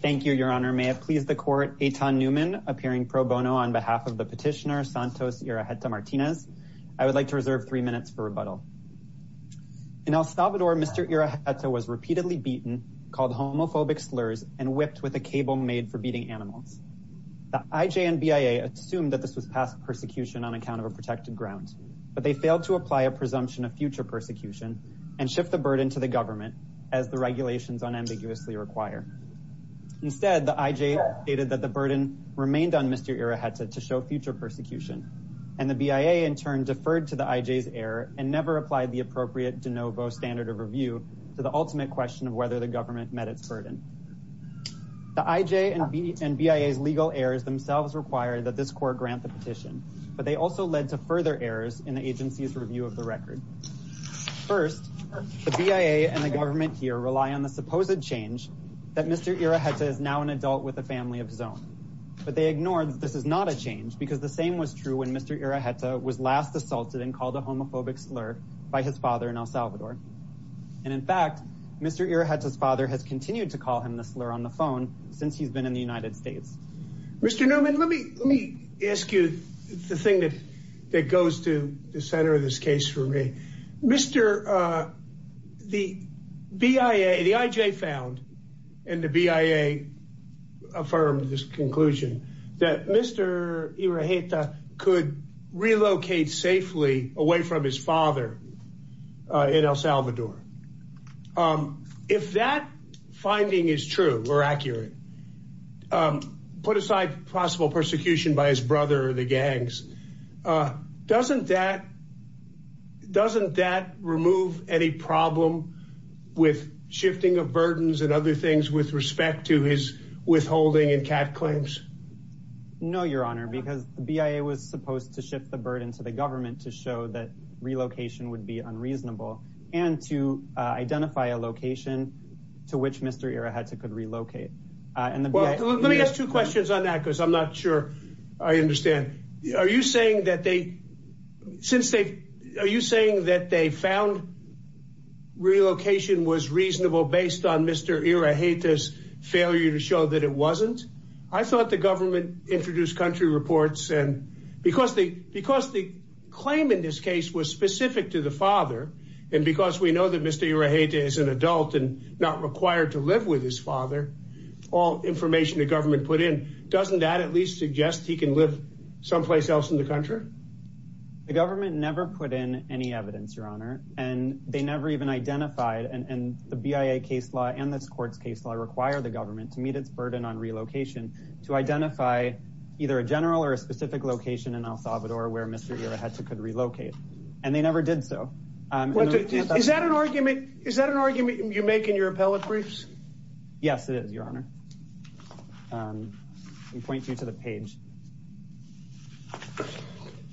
Thank you, Your Honor. May it please the Court, Eitan Newman, appearing pro bono on behalf of the petitioner Santos Iraheta-Martinez. I would like to reserve three minutes for rebuttal. In El Salvador, Mr. Iraheta was repeatedly beaten, called homophobic slurs, and whipped with a cable made for beating animals. The IJNBIA assumed that this was past persecution on account of a protected ground, but they failed to apply a presumption of future persecution and shift the burden to the government, as the regulations unambiguously require. Instead, the IJNBIA stated that the burden remained on Mr. Iraheta to show future persecution, and the BIA in turn deferred to the IJNBIA's error and never applied the appropriate de novo standard of review to the ultimate question of whether the government met its burden. The IJNBIA's legal errors themselves require that this Court grant the petition, but they also led to further errors in the agency's review of the record. First, the BIA and the government here rely on the supposed change that Mr. Iraheta is now an adult with a family of his own. But they ignore that this is not a change, because the same was true when Mr. Iraheta was last assaulted and called a homophobic slur by his father in El Salvador. And in fact, Mr. Iraheta's father has continued to call him the slur on the phone since he's been in the United States. Mr. Newman, let me ask you the thing that goes to the center of this case for me. The IJNBIA found, and the BIA affirmed this conclusion, that Mr. Iraheta could relocate safely away from his father in El Salvador. If that finding is true or accurate, put aside possible persecution by his brother or the gangs, doesn't that remove any problem with shifting of burdens and other things with respect to his withholding and cat claims? No, Your Honor, because the BIA was supposed to shift the burden to the government to show that relocation would be unreasonable and to identify a location to which Mr. Iraheta could relocate. Let me ask two questions on that, because I'm not sure I understand. Are you saying that they found relocation was reasonable based on Mr. Iraheta's failure to show that it wasn't? I thought the government introduced country reports, and because the claim in this case was specific to the father, and because we know that Mr. Iraheta is an adult and not required to live with his father, all information the government put in, doesn't that at least suggest he can live someplace else in the country? The government never put in any evidence, Your Honor, and they never even identified, and the BIA case law and this court's case law require the government to meet its burden on relocation to identify either a general or a specific location in El Salvador where Mr. Iraheta could relocate, and they never did so. Is that an argument you make in your appellate briefs? Yes, it is, Your Honor. Let me point you to the page.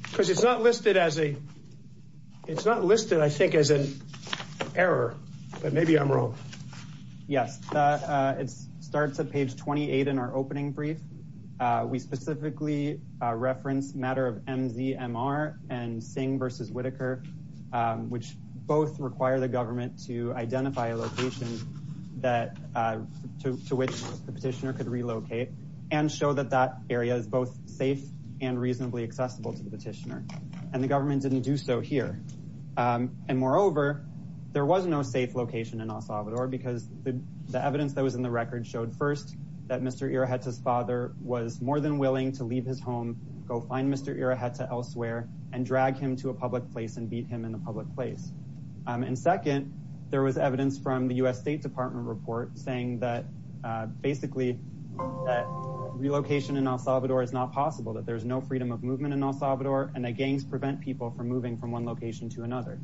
Because it's not listed, I think, as an error, but maybe I'm wrong. Yes, it starts at page 28 in our opening brief. We specifically reference the matter of MZMR and Singh v. Whitaker, which both require the government to identify a location to which the petitioner could relocate and show that that area is both safe and reasonably accessible to the petitioner, and the government didn't do so here. And moreover, there was no safe location in El Salvador because the evidence that was in the record showed, first, that Mr. Iraheta's father was more than willing to leave his home, go find Mr. Iraheta elsewhere, and drag him to a public place and beat him in a public place. And second, there was evidence from the U.S. State Department report saying that, basically, that relocation in El Salvador is not possible, that there's no freedom of movement in El Salvador, and that gangs prevent people from moving from one location to another.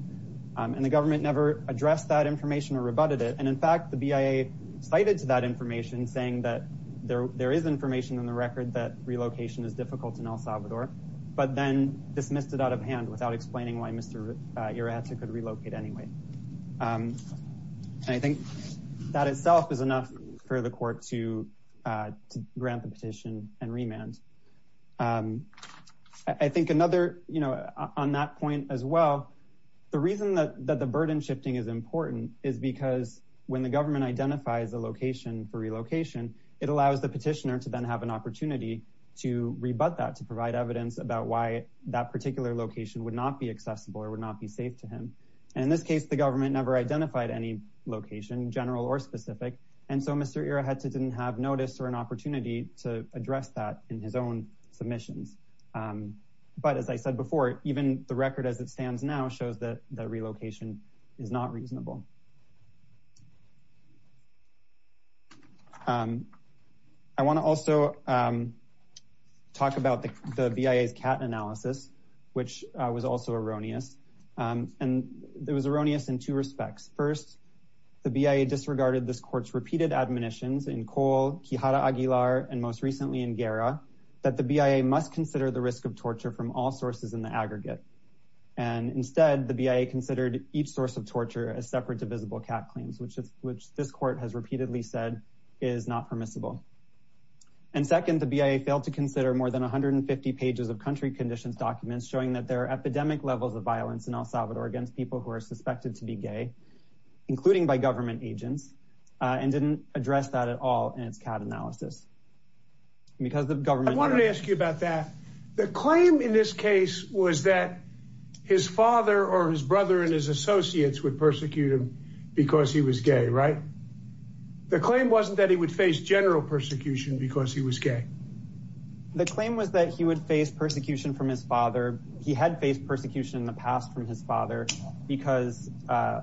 And the government never addressed that information or rebutted it, and in fact, the BIA cited to that information, saying that there is information in the record that relocation is difficult in El Salvador, but then dismissed it out of hand without explaining why Mr. Iraheta could relocate anyway. And I think that itself is enough for the court to grant the petition and remand. I think another, you know, on that point as well, the reason that the burden shifting is important is because when the government identifies a location for relocation, it allows the petitioner to then have an opportunity to rebut that, to provide evidence about why that particular location would not be accessible or would not be safe to him. And in this case, the government never identified any location, general or specific, and so Mr. Iraheta didn't have notice or an opportunity to address that in his own submissions. But as I said before, even the record as it stands now shows that the relocation is not reasonable. I want to also talk about the BIA's CAT analysis, which was also erroneous, and it was erroneous in two respects. First, the BIA disregarded this court's repeated admonitions in Cole, Quijada Aguilar, and most recently in Guerra, that the BIA must consider the risk of torture from all sources in the aggregate. And instead, the BIA considered each source of torture as separate, divisible CAT claims, which this court has repeatedly said is not permissible. And second, the BIA failed to consider more than 150 pages of country conditions documents showing that there are epidemic levels of violence in El Salvador against people who are suspected to be gay, including by government agents, and didn't address that at all in its CAT analysis. I wanted to ask you about that. The claim in this case was that his father or his brother and his associates would persecute him because he was gay, right? The claim wasn't that he would face general persecution because he was gay. The claim was that he would face persecution from his father. He had faced persecution in the past from his father because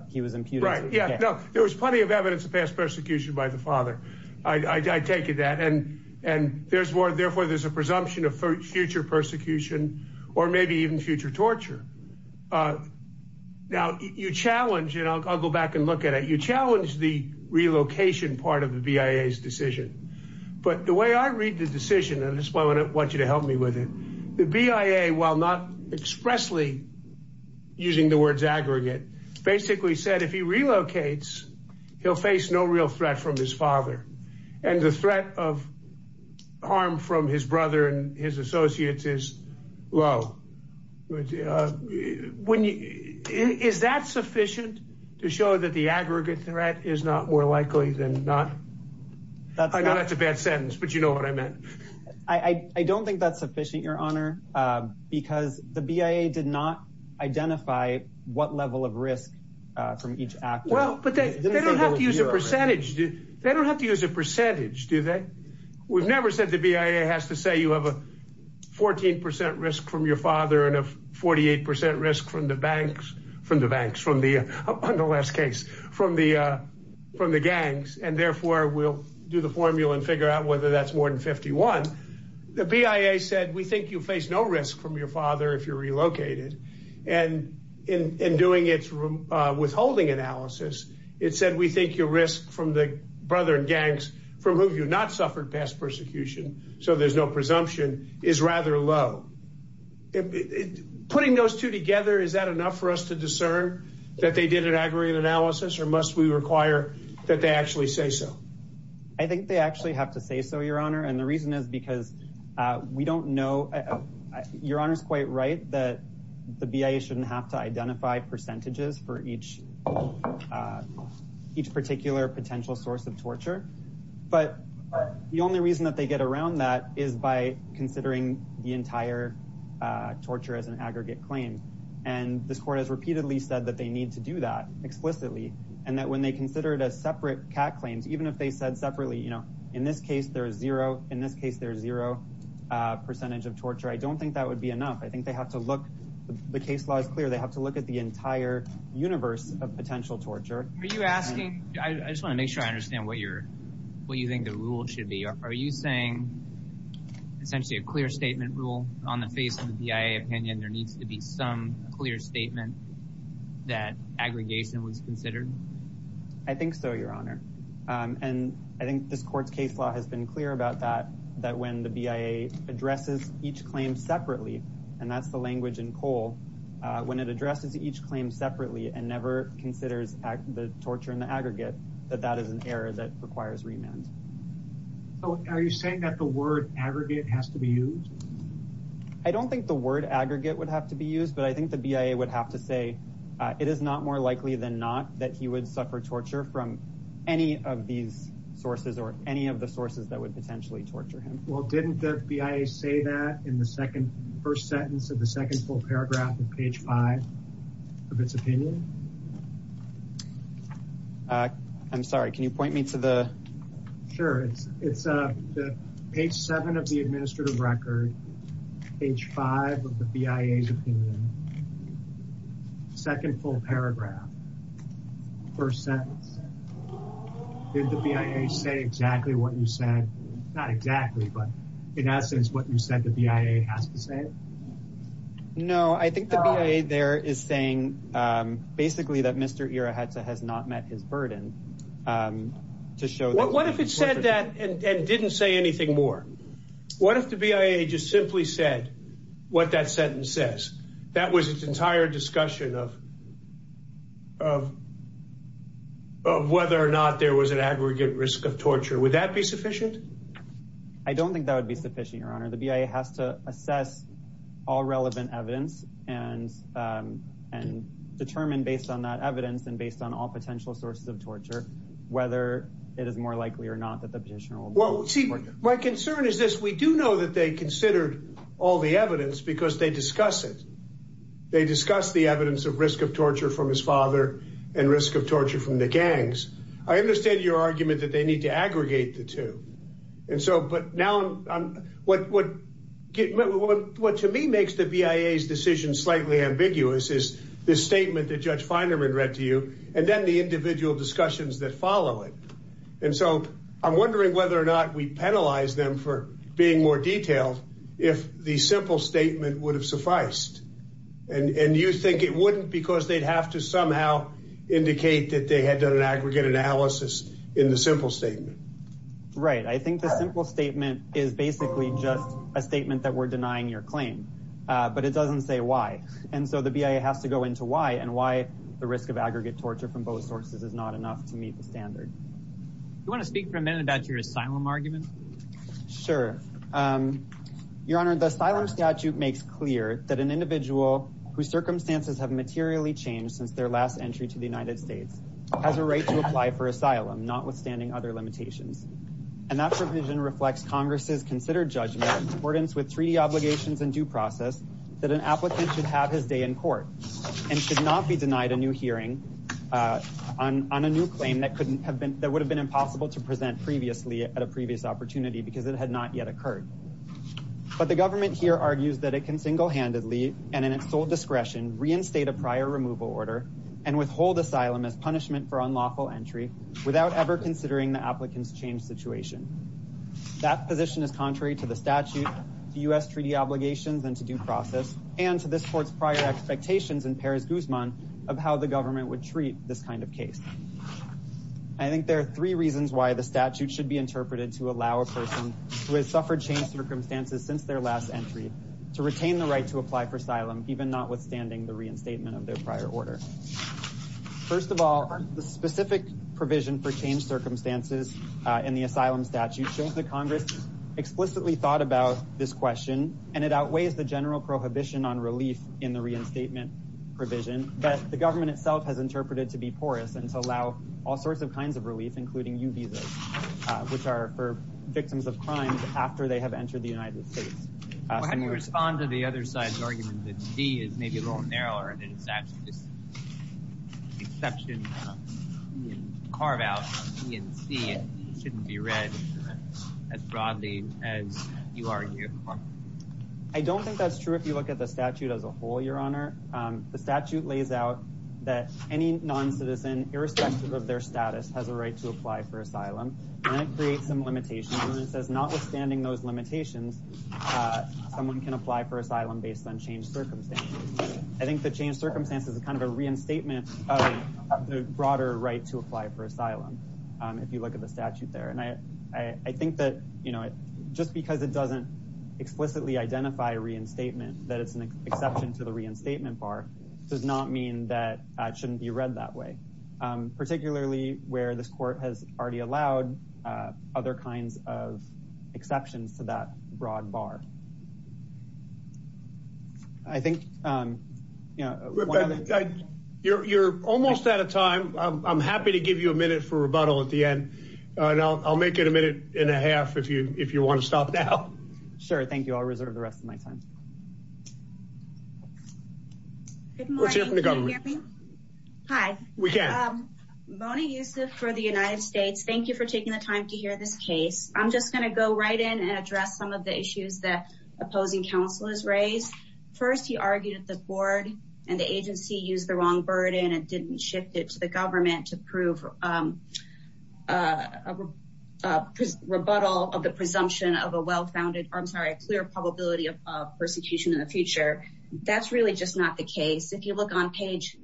he was imputed to be gay. Right, yeah, no, there was plenty of evidence of past persecution by the father. I take it that, and therefore there's a presumption of future persecution or maybe even future torture. Now, you challenge, and I'll go back and look at it, you challenge the relocation part of the BIA's decision. But the way I read the decision, and this is why I want you to help me with it, the BIA, while not expressly using the words aggregate, basically said if he relocates, he'll face no real threat from his father. And the threat of harm from his brother and his associates is low. Is that sufficient to show that the aggregate threat is not more likely than not? I know that's a bad sentence, but you know what I meant. I don't think that's sufficient, Your Honor, because the BIA did not identify what level of risk from each actor. Well, but they don't have to use a percentage. They don't have to use a percentage, do they? We've never said the BIA has to say you have a 14 percent risk from your father and a 48 percent risk from the banks, from the banks, on the last case, from the gangs. And therefore, we'll do the formula and figure out whether that's more than 51. The BIA said we think you face no risk from your father if you're relocated. And in doing its withholding analysis, it said we think your risk from the brother gangs, from whom you've not suffered past persecution, so there's no presumption, is rather low. Putting those two together, is that enough for us to discern that they did an aggregate analysis? Or must we require that they actually say so? I think they actually have to say so, Your Honor. And the reason is because we don't know. Your Honor's quite right that the BIA shouldn't have to identify percentages for each particular potential source of torture. But the only reason that they get around that is by considering the entire torture as an aggregate claim. And this court has repeatedly said that they need to do that explicitly. And that when they consider it as separate CAC claims, even if they said separately, in this case there is zero, in this case there is zero percentage of torture, I don't think that would be enough. I think they have to look, the case law is clear, they have to look at the entire universe of potential torture. Are you asking, I just want to make sure I understand what you're, what you think the rule should be. Are you saying essentially a clear statement rule on the face of the BIA opinion there needs to be some clear statement that aggregation was considered? I think so, Your Honor. And I think this court's case law has been clear about that, that when the BIA addresses each claim separately, and that's the language in Cole, when it addresses each claim separately and never considers the torture in the aggregate, that that is an error that requires remand. So are you saying that the word aggregate has to be used? I don't think the word aggregate would have to be used, but I think the BIA would have to say it is not more likely than not that he would suffer torture from any of these sources or any of the sources that would potentially torture him. Well, didn't the BIA say that in the second, first sentence of the second full paragraph of page five of its opinion? I'm sorry, can you point me to the... It's page seven of the administrative record, page five of the BIA's opinion, second full paragraph, first sentence. Did the BIA say exactly what you said? Not exactly, but in essence what you said the BIA has to say? No, I think the BIA there is saying basically that Mr. Ira Hetze has not met his burden to show that... and didn't say anything more. What if the BIA just simply said what that sentence says? That was its entire discussion of whether or not there was an aggregate risk of torture. Would that be sufficient? I don't think that would be sufficient, Your Honor. The BIA has to assess all relevant evidence and determine based on that evidence and based on all potential sources of torture whether it is more likely or not that the petitioner will... Well, see, my concern is this. We do know that they considered all the evidence because they discuss it. They discuss the evidence of risk of torture from his father and risk of torture from the gangs. I understand your argument that they need to aggregate the two. And so, but now, what to me makes the BIA's decision slightly ambiguous is this statement that Judge Feinerman read to you and then the individual discussions that follow it. And so, I'm wondering whether or not we penalize them for being more detailed if the simple statement would have sufficed. And you think it wouldn't because they'd have to somehow indicate that they had done an aggregate analysis in the simple statement. Right. I think the simple statement is basically just a statement that we're denying your claim. But it doesn't say why. And so, the BIA has to go into why and why the risk of aggregate torture from both sources is not enough to meet the standard. Do you want to speak for a minute about your asylum argument? Sure. Your Honor, the asylum statute makes clear that an individual whose circumstances have materially changed since their last entry to the United States has a right to apply for asylum notwithstanding other limitations. And that provision reflects Congress's considered judgment in accordance with treaty obligations and due process that an applicant should have his day in court and should not be denied a new hearing on a new claim that would have been impossible to present previously at a previous opportunity because it had not yet occurred. But the government here argues that it can single-handedly and in its sole discretion reinstate a prior removal order and withhold asylum as punishment for unlawful entry without ever considering the applicant's changed situation. That position is contrary to the statute, to U.S. treaty obligations and to due process, and to this court's prior expectations in Paris Guzman of how the government would treat this kind of case. I think there are three reasons why the statute should be interpreted to allow a person who has suffered changed circumstances since their last entry to retain the right to apply for asylum, even notwithstanding the reinstatement of their prior order. First of all, the specific provision for changed circumstances in the asylum statute shows that Congress explicitly thought about this question, and it outweighs the general prohibition on relief in the reinstatement provision. But the government itself has interpreted it to be porous and to allow all sorts of kinds of relief, including U visas, which are for victims of crime after they have entered the United States. When you respond to the other side's argument that D is maybe a little narrower, and it's actually just an exception carved out from E and C, it shouldn't be read as broadly as you argue. I don't think that's true if you look at the statute as a whole, Your Honor. The statute lays out that any noncitizen, irrespective of their status, has a right to apply for asylum, and it creates some limitations, and it says notwithstanding those limitations, someone can apply for asylum based on changed circumstances. I think the changed circumstances is kind of a reinstatement of the broader right to apply for asylum, if you look at the statute there. And I think that just because it doesn't explicitly identify reinstatement, that it's an exception to the reinstatement bar, does not mean that it shouldn't be read that way, particularly where this court has already allowed other kinds of exceptions to that broad bar. You're almost out of time. I'm happy to give you a minute for rebuttal at the end, and I'll make it a minute and a half if you want to stop now. Sure, thank you. I'll reserve the rest of my time. Good morning. Can you hear me? Hi. We can. Mona Yusuf for the United States. Thank you for taking the time to hear this case. I'm just going to go right in and address some of the issues that opposing counsel has raised. First, he argued that the board and the agency used the wrong burden and didn't shift it to the government to prove a rebuttal of the presumption of a well-founded, I'm sorry, a clear probability of persecution in the future. That's really just not the case. If you look on page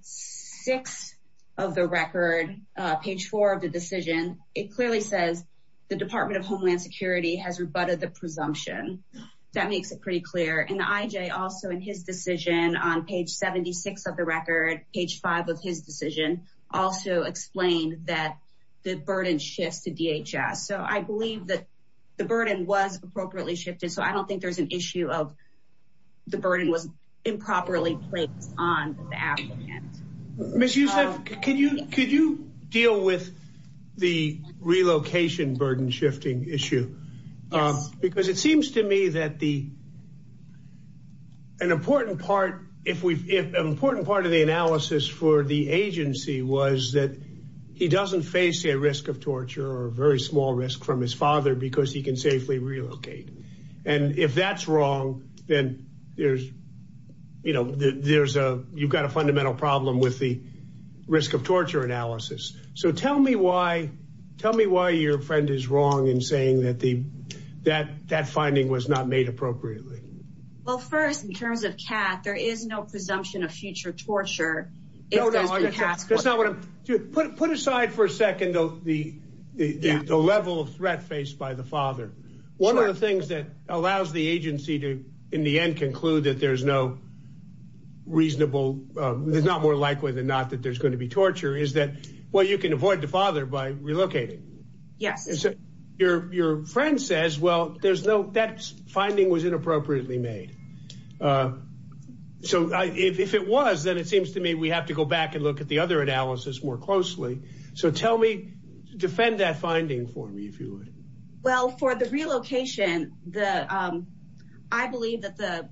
6 of the record, page 4 of the decision, it clearly says the Department of Homeland Security has rebutted the presumption. That makes it pretty clear. And the IJ also in his decision on page 76 of the record, page 5 of his decision, also explained that the burden shifts to DHS. So I believe that the burden was appropriately shifted, so I don't think there's an issue of the burden was improperly placed on the applicant. Ms. Yusuf, could you deal with the relocation burden shifting issue? Yes. Because it seems to me that an important part of the analysis for the agency was that he doesn't face a risk of torture or a very small risk from his father because he can safely relocate. And if that's wrong, then you've got a fundamental problem with the risk of torture analysis. So tell me why your friend is wrong in saying that that finding was not made appropriately. Well, first, in terms of Kat, there is no presumption of future torture. Put aside for a second the level of threat faced by the father. One of the things that allows the agency to, in the end, conclude that there's no reasonable, there's not more likely than not that there's going to be torture is that, well, you can avoid the father by relocating. Yes. Your friend says, well, there's no, that finding was inappropriately made. So if it was, then it seems to me we have to go back and look at the other analysis more closely. So tell me, defend that finding for me, if you would. Well, for the relocation, I believe that the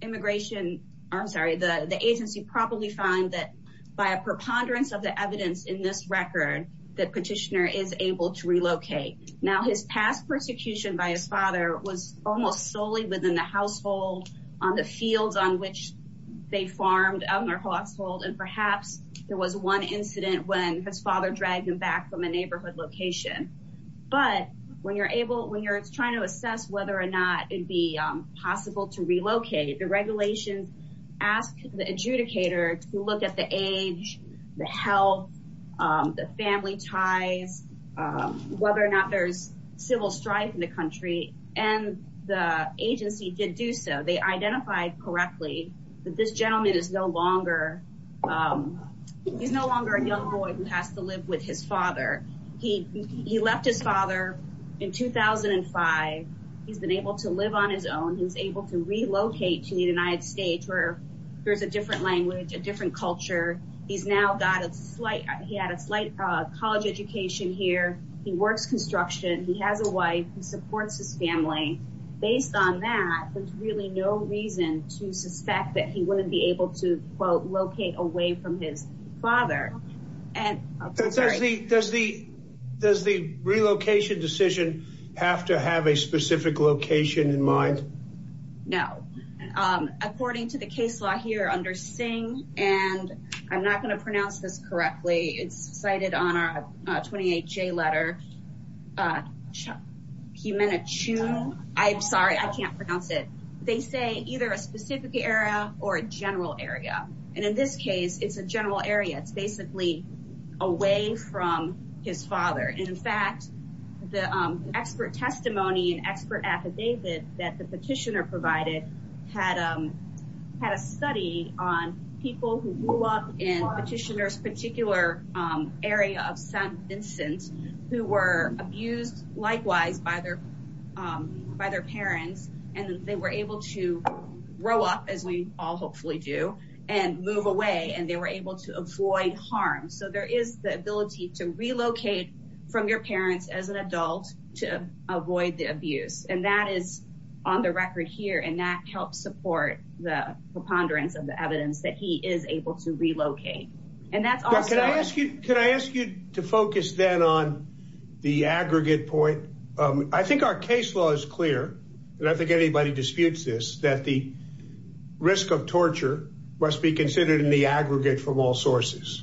immigration, I'm sorry, the agency probably found that by a preponderance of the evidence in this record, that petitioner is able to relocate. Now, his past persecution by his father was almost solely within the household, on the fields on which they farmed on their household. And perhaps there was one incident when his father dragged him back from a neighborhood location. But when you're able, when you're trying to assess whether or not it'd be possible to relocate, the regulations ask the adjudicator to look at the age, the health, the family ties, whether or not there's civil strife in the country, and the agency did do so. They identified correctly that this gentleman is no longer, he's no longer a young boy who has to live with his father. He left his father in 2005. He's been able to live on his own. He's able to relocate to the United States where there's a different language, a different culture. He's now got a slight, he had a slight college education here. He works construction. He has a wife. He supports his family. Based on that, there's really no reason to suspect that he wouldn't be able to, quote, locate away from his father. Does the, does the, does the relocation decision have to have a specific location in mind? No. According to the case law here under Singh, and I'm not going to pronounce this correctly, it's cited on our 28-J letter, I'm sorry, I can't pronounce it. They say either a specific area or a general area. And in this case, it's a general area. It's basically away from his father. And, in fact, the expert testimony and expert affidavit that the petitioner provided had a study on people who grew up in as we all hopefully do and move away and they were able to avoid harm. So there is the ability to relocate from your parents as an adult to avoid the abuse. And that is on the record here. And that helps support the preponderance of the evidence that he is able to relocate. And that's also. Can I ask you to focus then on the aggregate point? I think our case law is clear. And I think anybody disputes this, that the risk of torture must be considered in the aggregate from all sources.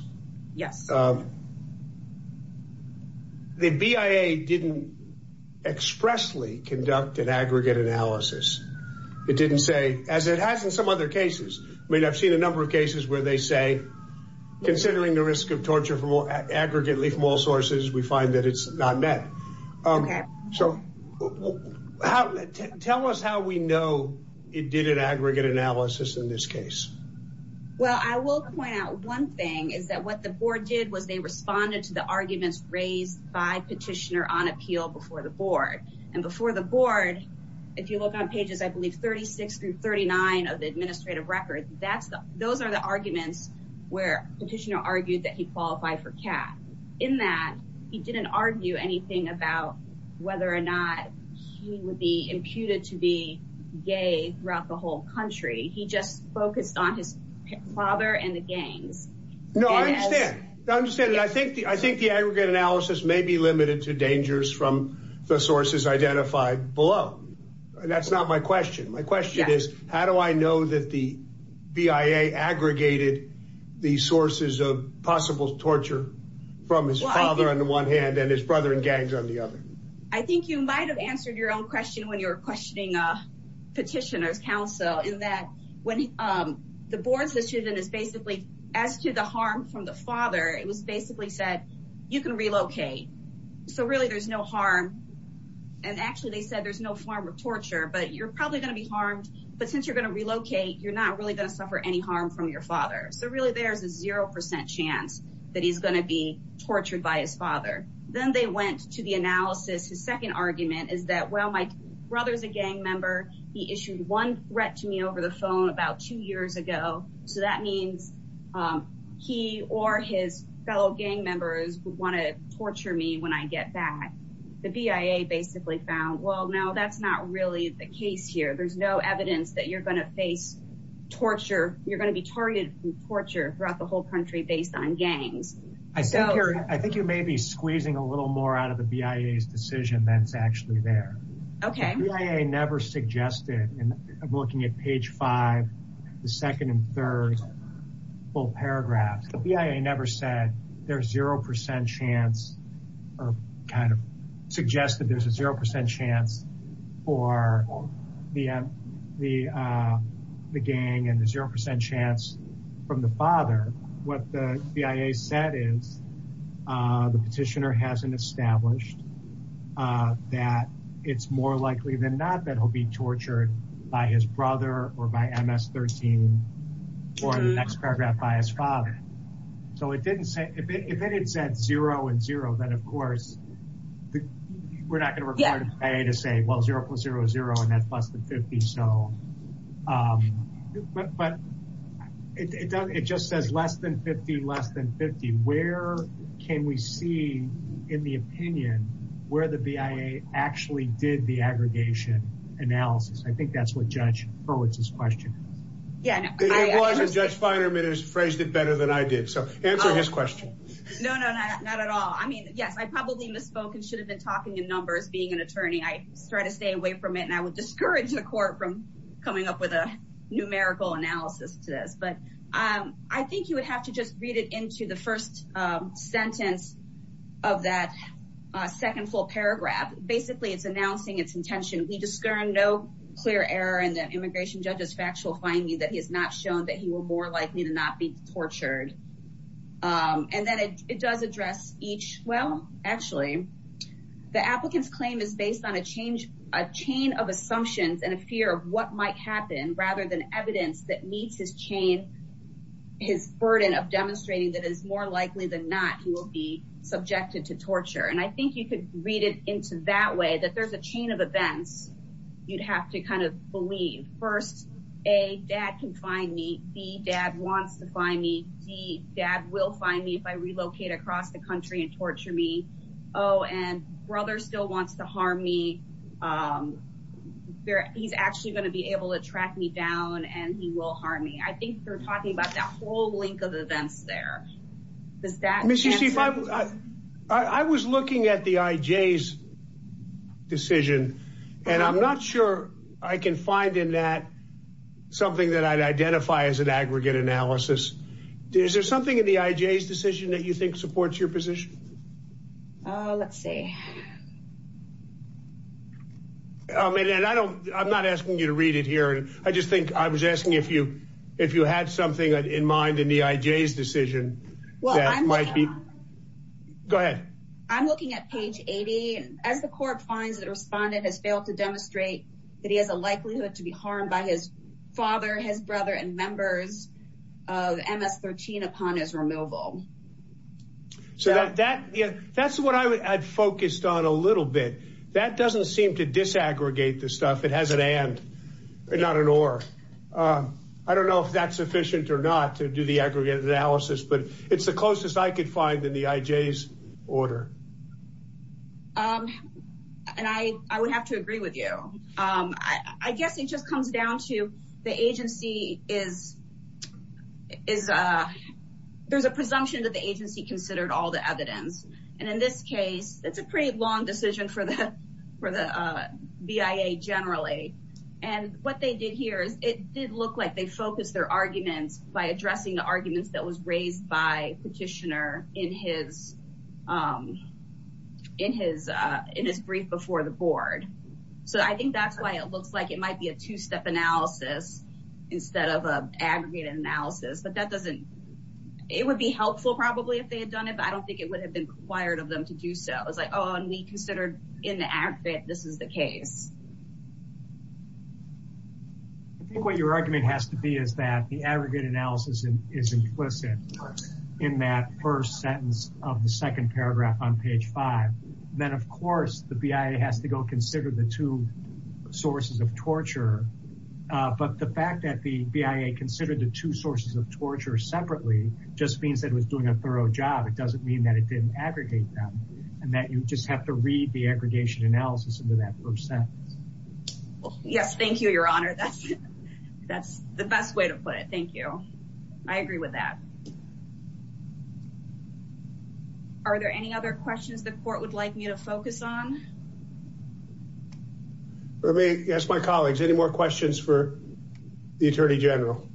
Yes. The BIA didn't expressly conduct an aggregate analysis. It didn't say, as it has in some other cases. I mean, I've seen a number of cases where they say, considering the risk of torture from aggregately from all sources, we find that it's not met. Okay. So tell us how we know it did an aggregate analysis in this case. Well, I will point out one thing is that what the board did was they responded to the arguments raised by petitioner on appeal before the board. And before the board, if you look on pages, I believe, 36 through 39 of the administrative record, those are the arguments where petitioner argued that he qualified for CAT. In that, he didn't argue anything about whether or not he would be imputed to be gay throughout the whole country. He just focused on his father and the gangs. No, I understand. I understand. And I think the aggregate analysis may be limited to dangers from the sources identified below. That's not my question. My question is, how do I know that the BIA aggregated the sources of possible torture from his father on the one hand and his brother and gangs on the other? I think you might have answered your own question when you were questioning petitioner's counsel, in that when the board's decision is basically as to the harm from the father, it was basically said, you can relocate. So really, there's no harm. And actually, they said there's no form of torture, but you're probably going to be harmed. But since you're going to relocate, you're not really going to suffer any harm from your father. So really, there's a 0% chance that he's going to be tortured by his father. Then they went to the analysis. His second argument is that, well, my brother's a gang member. He issued one threat to me over the phone about two years ago. So that means he or his fellow gang members would want to torture me when I get back. The BIA basically found, well, no, that's not really the case here. There's no evidence that you're going to face torture. You're going to be targeted for torture throughout the whole country based on gangs. I think you may be squeezing a little more out of the BIA's decision than is actually there. Okay. The BIA never suggested, and I'm looking at page 5, the second and third full paragraphs. The BIA never said there's 0% chance or kind of suggested there's a 0% chance for the gang and the 0% chance from the father. What the BIA said is the petitioner hasn't established that it's more likely than not that he'll be tortured by his brother or by MS-13 or the next paragraph by his father. So if it had said 0 and 0, then of course we're not going to require the BIA to say, well, 0 plus 0 is 0, and that's less than 50. But it just says less than 50, less than 50. Where can we see, in the opinion, where the BIA actually did the aggregation analysis? I think that's what Judge Hurwitz's question is. It was, and Judge Finerman has phrased it better than I did. So answer his question. No, no, not at all. I mean, yes, I probably misspoke and should have been talking in numbers being an attorney. I try to stay away from it, and I would discourage the court from coming up with a numerical analysis to this. But I think you would have to just read it into the first sentence of that second full paragraph. Basically, it's announcing its intention. We discern no clear error in the immigration judge's factual finding that he has not shown that he were more likely to not be tortured. And then it does address each, well, actually, the applicant's claim is based on a chain of assumptions and a fear of what might happen rather than evidence that meets his burden of demonstrating that it is more likely than not he will be subjected to torture. And I think you could read it into that way, that there's a chain of events you'd have to kind of believe. First, A, dad can find me. B, dad wants to find me. C, dad will find me if I relocate across the country and torture me. Oh, and brother still wants to harm me. He's actually going to be able to track me down, and he will harm me. I think they're talking about that whole link of events there. Does that answer? I was looking at the IJ's decision, and I'm not sure I can find in that something that I'd identify as an aggregate analysis. Is there something in the IJ's decision that you think supports your position? Let's see. I'm not asking you to read it here. I just think I was asking if you had something in mind in the IJ's decision that might be. Go ahead. I'm looking at page 80. As the court finds that a respondent has failed to demonstrate that he has a likelihood to be harmed by his father, his brother, and members of MS-13 upon his removal. So that's what I'd focused on a little bit. That doesn't seem to disaggregate the stuff. It has an and, not an or. I don't know if that's sufficient or not to do the aggregate analysis, but it's the closest I could find in the IJ's order. And I would have to agree with you. I guess it just comes down to the agency is, there's a presumption that the agency considered all the evidence. And in this case, it's a pretty long decision for the BIA generally. And what they did here is it did look like they focused their arguments by addressing the arguments that was raised by Petitioner in his brief before the board. So I think that's why it looks like it might be a two-step analysis instead of an aggregated analysis. But that doesn't, it would be helpful probably if they had done it, but I don't think it would have been required of them to do so. It's like, oh, and we considered in the ad fit this is the case. I think what your argument has to be is that the aggregate analysis is implicit in that first sentence of the second paragraph on page five. Then, of course, the BIA has to go consider the two sources of torture. But the fact that the BIA considered the two sources of torture separately just means that it was doing a thorough job. It doesn't mean that it didn't aggregate them and that you just have to read the aggregation analysis into that first sentence. Yes, thank you, your honor. That's the best way to put it. Thank you. I agree with that. Are there any other questions the court would like me to focus on? Yes, my colleagues, any more questions for the attorney general?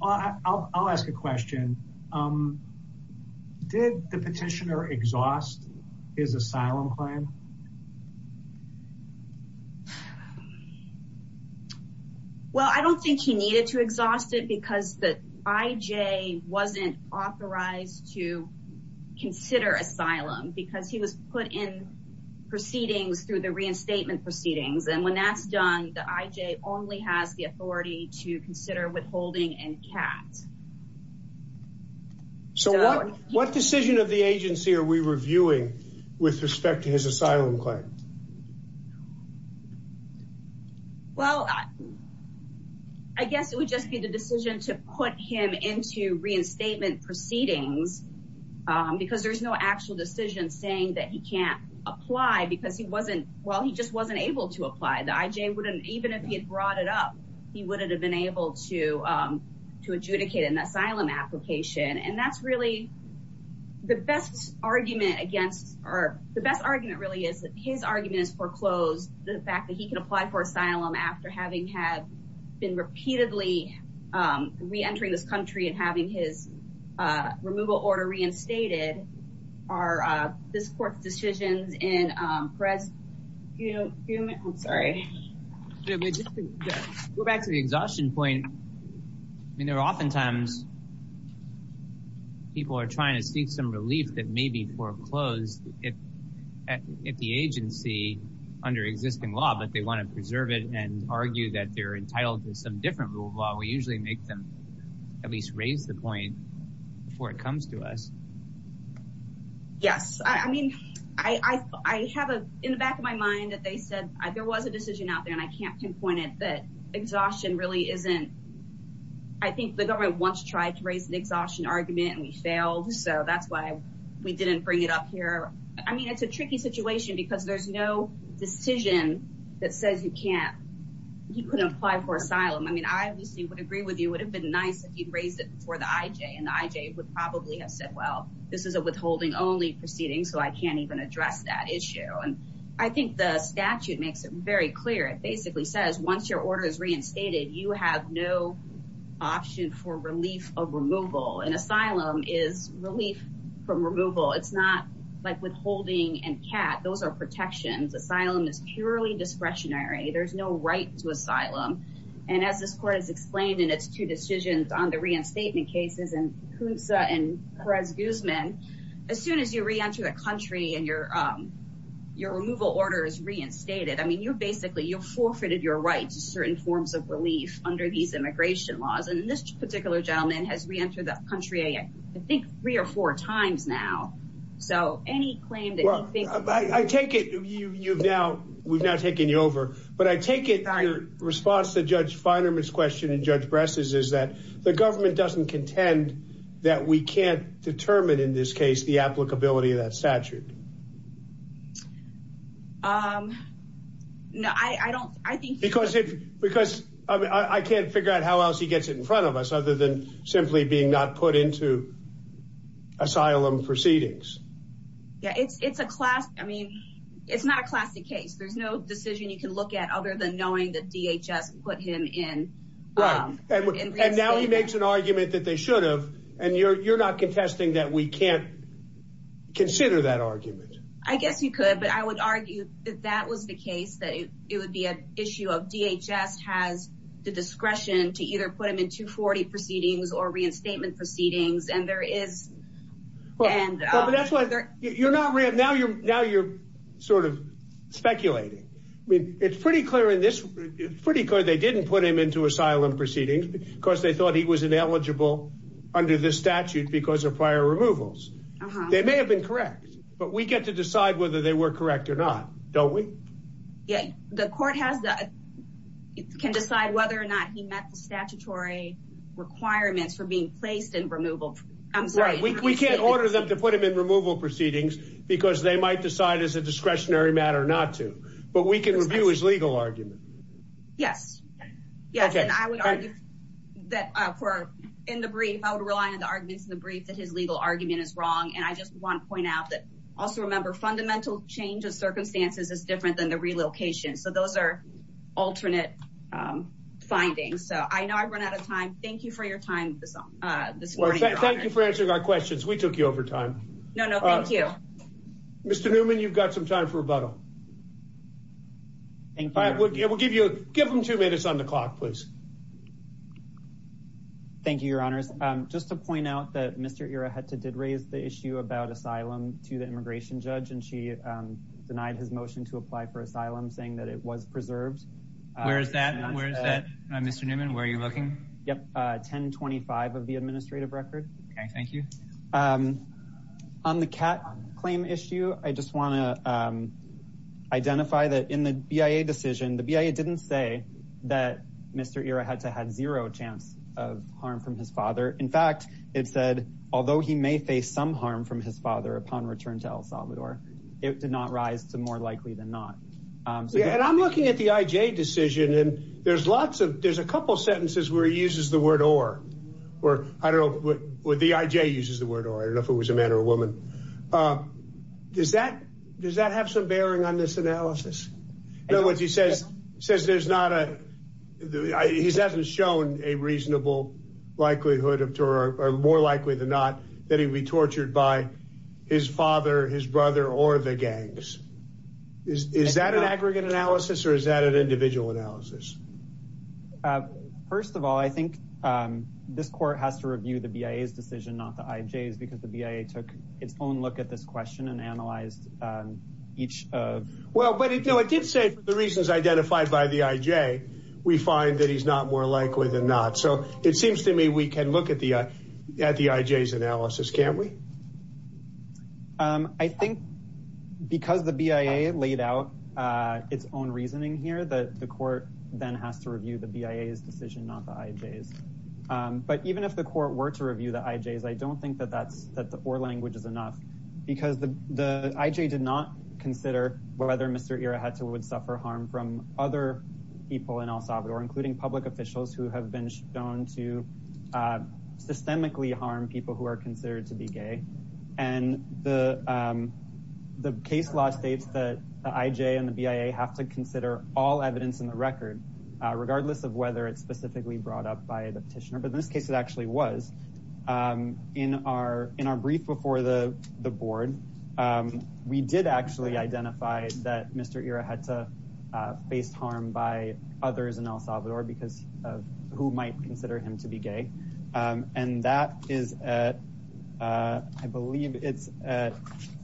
I'll ask a question. Did the petitioner exhaust his asylum claim? Well, I don't think he needed to exhaust it because the IJ wasn't authorized to consider asylum because he was put in proceedings through the reinstatement proceedings. And when that's done, the IJ only has the authority to consider withholding and CAT. So what decision of the agency are we reviewing with respect to his asylum claim? Well, I guess it would just be the decision to put him into reinstatement proceedings. Because there is no actual decision saying that he can't apply because he wasn't well, he just wasn't able to apply. The IJ wouldn't, even if he had brought it up, he wouldn't have been able to adjudicate an asylum application. And that's really the best argument against or the best argument really is that his argument is foreclosed. The fact that he can apply for asylum after having had been repeatedly reentering this country and having his removal order reinstated. Are this court's decisions in Perez? I'm sorry. Go back to the exhaustion point. I mean, there are oftentimes people are trying to seek some relief that may be foreclosed if the agency under existing law. But they want to preserve it and argue that they're entitled to some different rule of law. We usually make them at least raise the point before it comes to us. Yes, I mean, I have in the back of my mind that they said there was a decision out there and I can't pinpoint it that exhaustion really isn't. I think the government once tried to raise an exhaustion argument and we failed. So that's why we didn't bring it up here. I mean, it's a tricky situation because there's no decision that says you can't. You can apply for asylum. I mean, I obviously would agree with you would have been nice if you'd raised it for the IJ and IJ would probably have said, well, this is a withholding only proceeding. So I can't even address that issue. And I think the statute makes it very clear. It basically says once your order is reinstated, you have no option for relief of removal and asylum is relief from removal. It's not like withholding and cat. Those are protections. Asylum is purely discretionary. There's no right to asylum. And as this court has explained in its two decisions on the reinstatement cases and who's and Perez Guzman. As soon as you reenter the country and your your removal order is reinstated. I mean, you basically you forfeited your rights to certain forms of relief under these immigration laws. And this particular gentleman has reentered the country, I think, three or four times now. So any claim that I take it you've now we've now taken you over. But I take it your response to Judge Fineman's question and Judge Bress's is that the government doesn't contend that we can't determine in this case the applicability of that statute. No, I don't. I think because because I can't figure out how else he gets it in front of us other than simply being not put into asylum proceedings. Yeah, it's it's a class. I mean, it's not a classic case. There's no decision you can look at other than knowing that DHS put him in. Right. And now he makes an argument that they should have. And you're you're not contesting that we can't consider that argument. I guess you could. But I would argue that that was the case, that it would be an issue of DHS has the discretion to either put him into 40 proceedings or reinstatement proceedings. And there is and that's why you're not right now. Now you're sort of speculating. It's pretty clear in this pretty good. They didn't put him into asylum proceedings because they thought he was ineligible under the statute because of prior removals. They may have been correct, but we get to decide whether they were correct or not. Don't we get the court has that can decide whether or not he met the statutory requirements for being placed in removal. I'm sorry. We can't order them to put him in removal proceedings because they might decide as a discretionary matter not to. But we can review his legal argument. Yes. Yes. And I would argue that for in the brief, I would rely on the arguments in the brief that his legal argument is wrong. And I just want to point out that. Also, remember, fundamental change of circumstances is different than the relocation. So those are alternate findings. So I know I run out of time. Thank you for your time this morning. Thank you for answering our questions. We took you over time. No, no. Thank you, Mr. Newman. You've got some time for rebuttal. Thank you. We'll give you a give them two minutes on the clock, please. Thank you, your honors. Just to point out that Mr. Era had to did raise the issue about asylum to the immigration judge. And she denied his motion to apply for asylum, saying that it was preserved. Where is that? Where is that? Mr. Newman, where are you looking? Yep. Ten twenty five of the administrative record. Thank you. On the cat claim issue, I just want to identify that in the decision, the BIA didn't say that Mr. Era had to have zero chance of harm from his father. In fact, it said, although he may face some harm from his father upon return to El Salvador, it did not rise to more likely than not. And I'm looking at the IJ decision and there's lots of there's a couple of sentences where he uses the word or or I don't know what the IJ uses the word or if it was a man or a woman. Does that does that have some bearing on this analysis? In other words, he says says there's not a he's hasn't shown a reasonable likelihood of terror or more likely than not that he'd be tortured by his father, his brother or the gangs. Is that an aggregate analysis or is that an individual analysis? First of all, I think this court has to review the BIA's decision, not the IJ's, because the BIA took its own look at this question and analyzed each of. Well, but it did say the reasons identified by the IJ, we find that he's not more likely than not. So it seems to me we can look at the at the IJ's analysis, can't we? I think because the BIA laid out its own reasoning here that the court then has to review the BIA's decision, not the IJ's. But even if the court were to review the IJ's, I don't think that that's that the or language is enough because the the IJ did not consider whether Mr. Ira had to would suffer harm from other people in El Salvador, including public officials who have been shown to systemically harm people who are considered to be gay. And the the case law states that the IJ and the BIA have to consider all evidence in the record, regardless of whether it's specifically brought up by the petitioner. But in this case, it actually was in our in our brief before the the board. We did actually identify that Mr. Ira had to face harm by others in El Salvador because of who might consider him to be gay. And that is I believe it's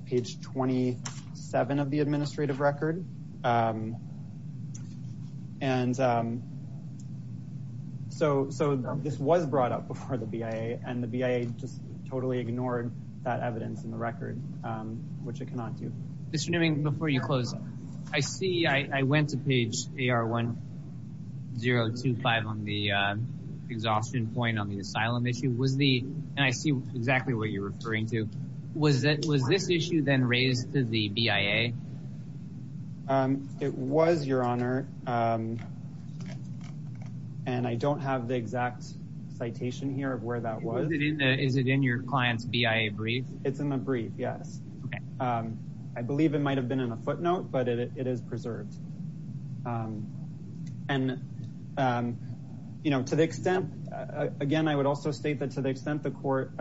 page twenty seven of the administrative record. And so so this was brought up before the BIA and the BIA just totally ignored that evidence in the record, which it cannot do. Mr. Newing, before you close, I see I went to page one zero two five on the exhaustion point on the asylum issue was the and I see exactly what you're referring to. Was that was this issue then raised to the BIA? It was your honor. And I don't have the exact citation here of where that was. Is it in your client's BIA brief? It's in the brief. Yes. I believe it might have been in a footnote, but it is preserved. And, you know, to the extent again, I would also state that to the extent the court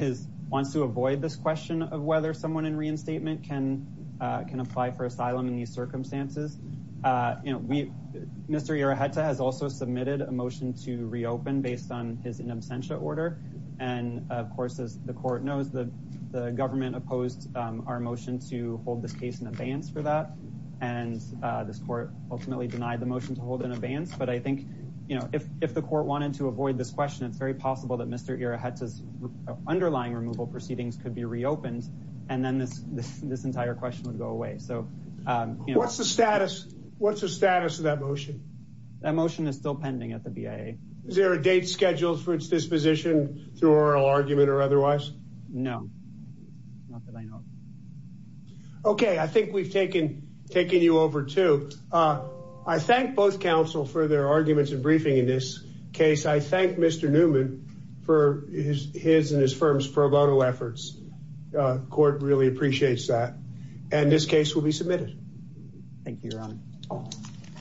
is wants to avoid this question of whether someone in reinstatement can can apply for asylum in these circumstances. You know, we Mr. Iroha has also submitted a motion to reopen based on his in absentia order. And of course, as the court knows, the government opposed our motion to hold this case in advance for that. And this court ultimately denied the motion to hold in advance. But I think, you know, if if the court wanted to avoid this question, it's very possible that Mr. Iroha underlying removal proceedings could be reopened and then this this entire question would go away. So what's the status? What's the status of that motion? That motion is still pending at the BIA. Is there a date scheduled for its disposition through oral argument or otherwise? No, not that I know of. OK, I think we've taken taking you over to I thank both counsel for their arguments and briefing in this case. I thank Mr. Newman for his his and his firm's pro bono efforts. This court really appreciates that. And this case will be submitted.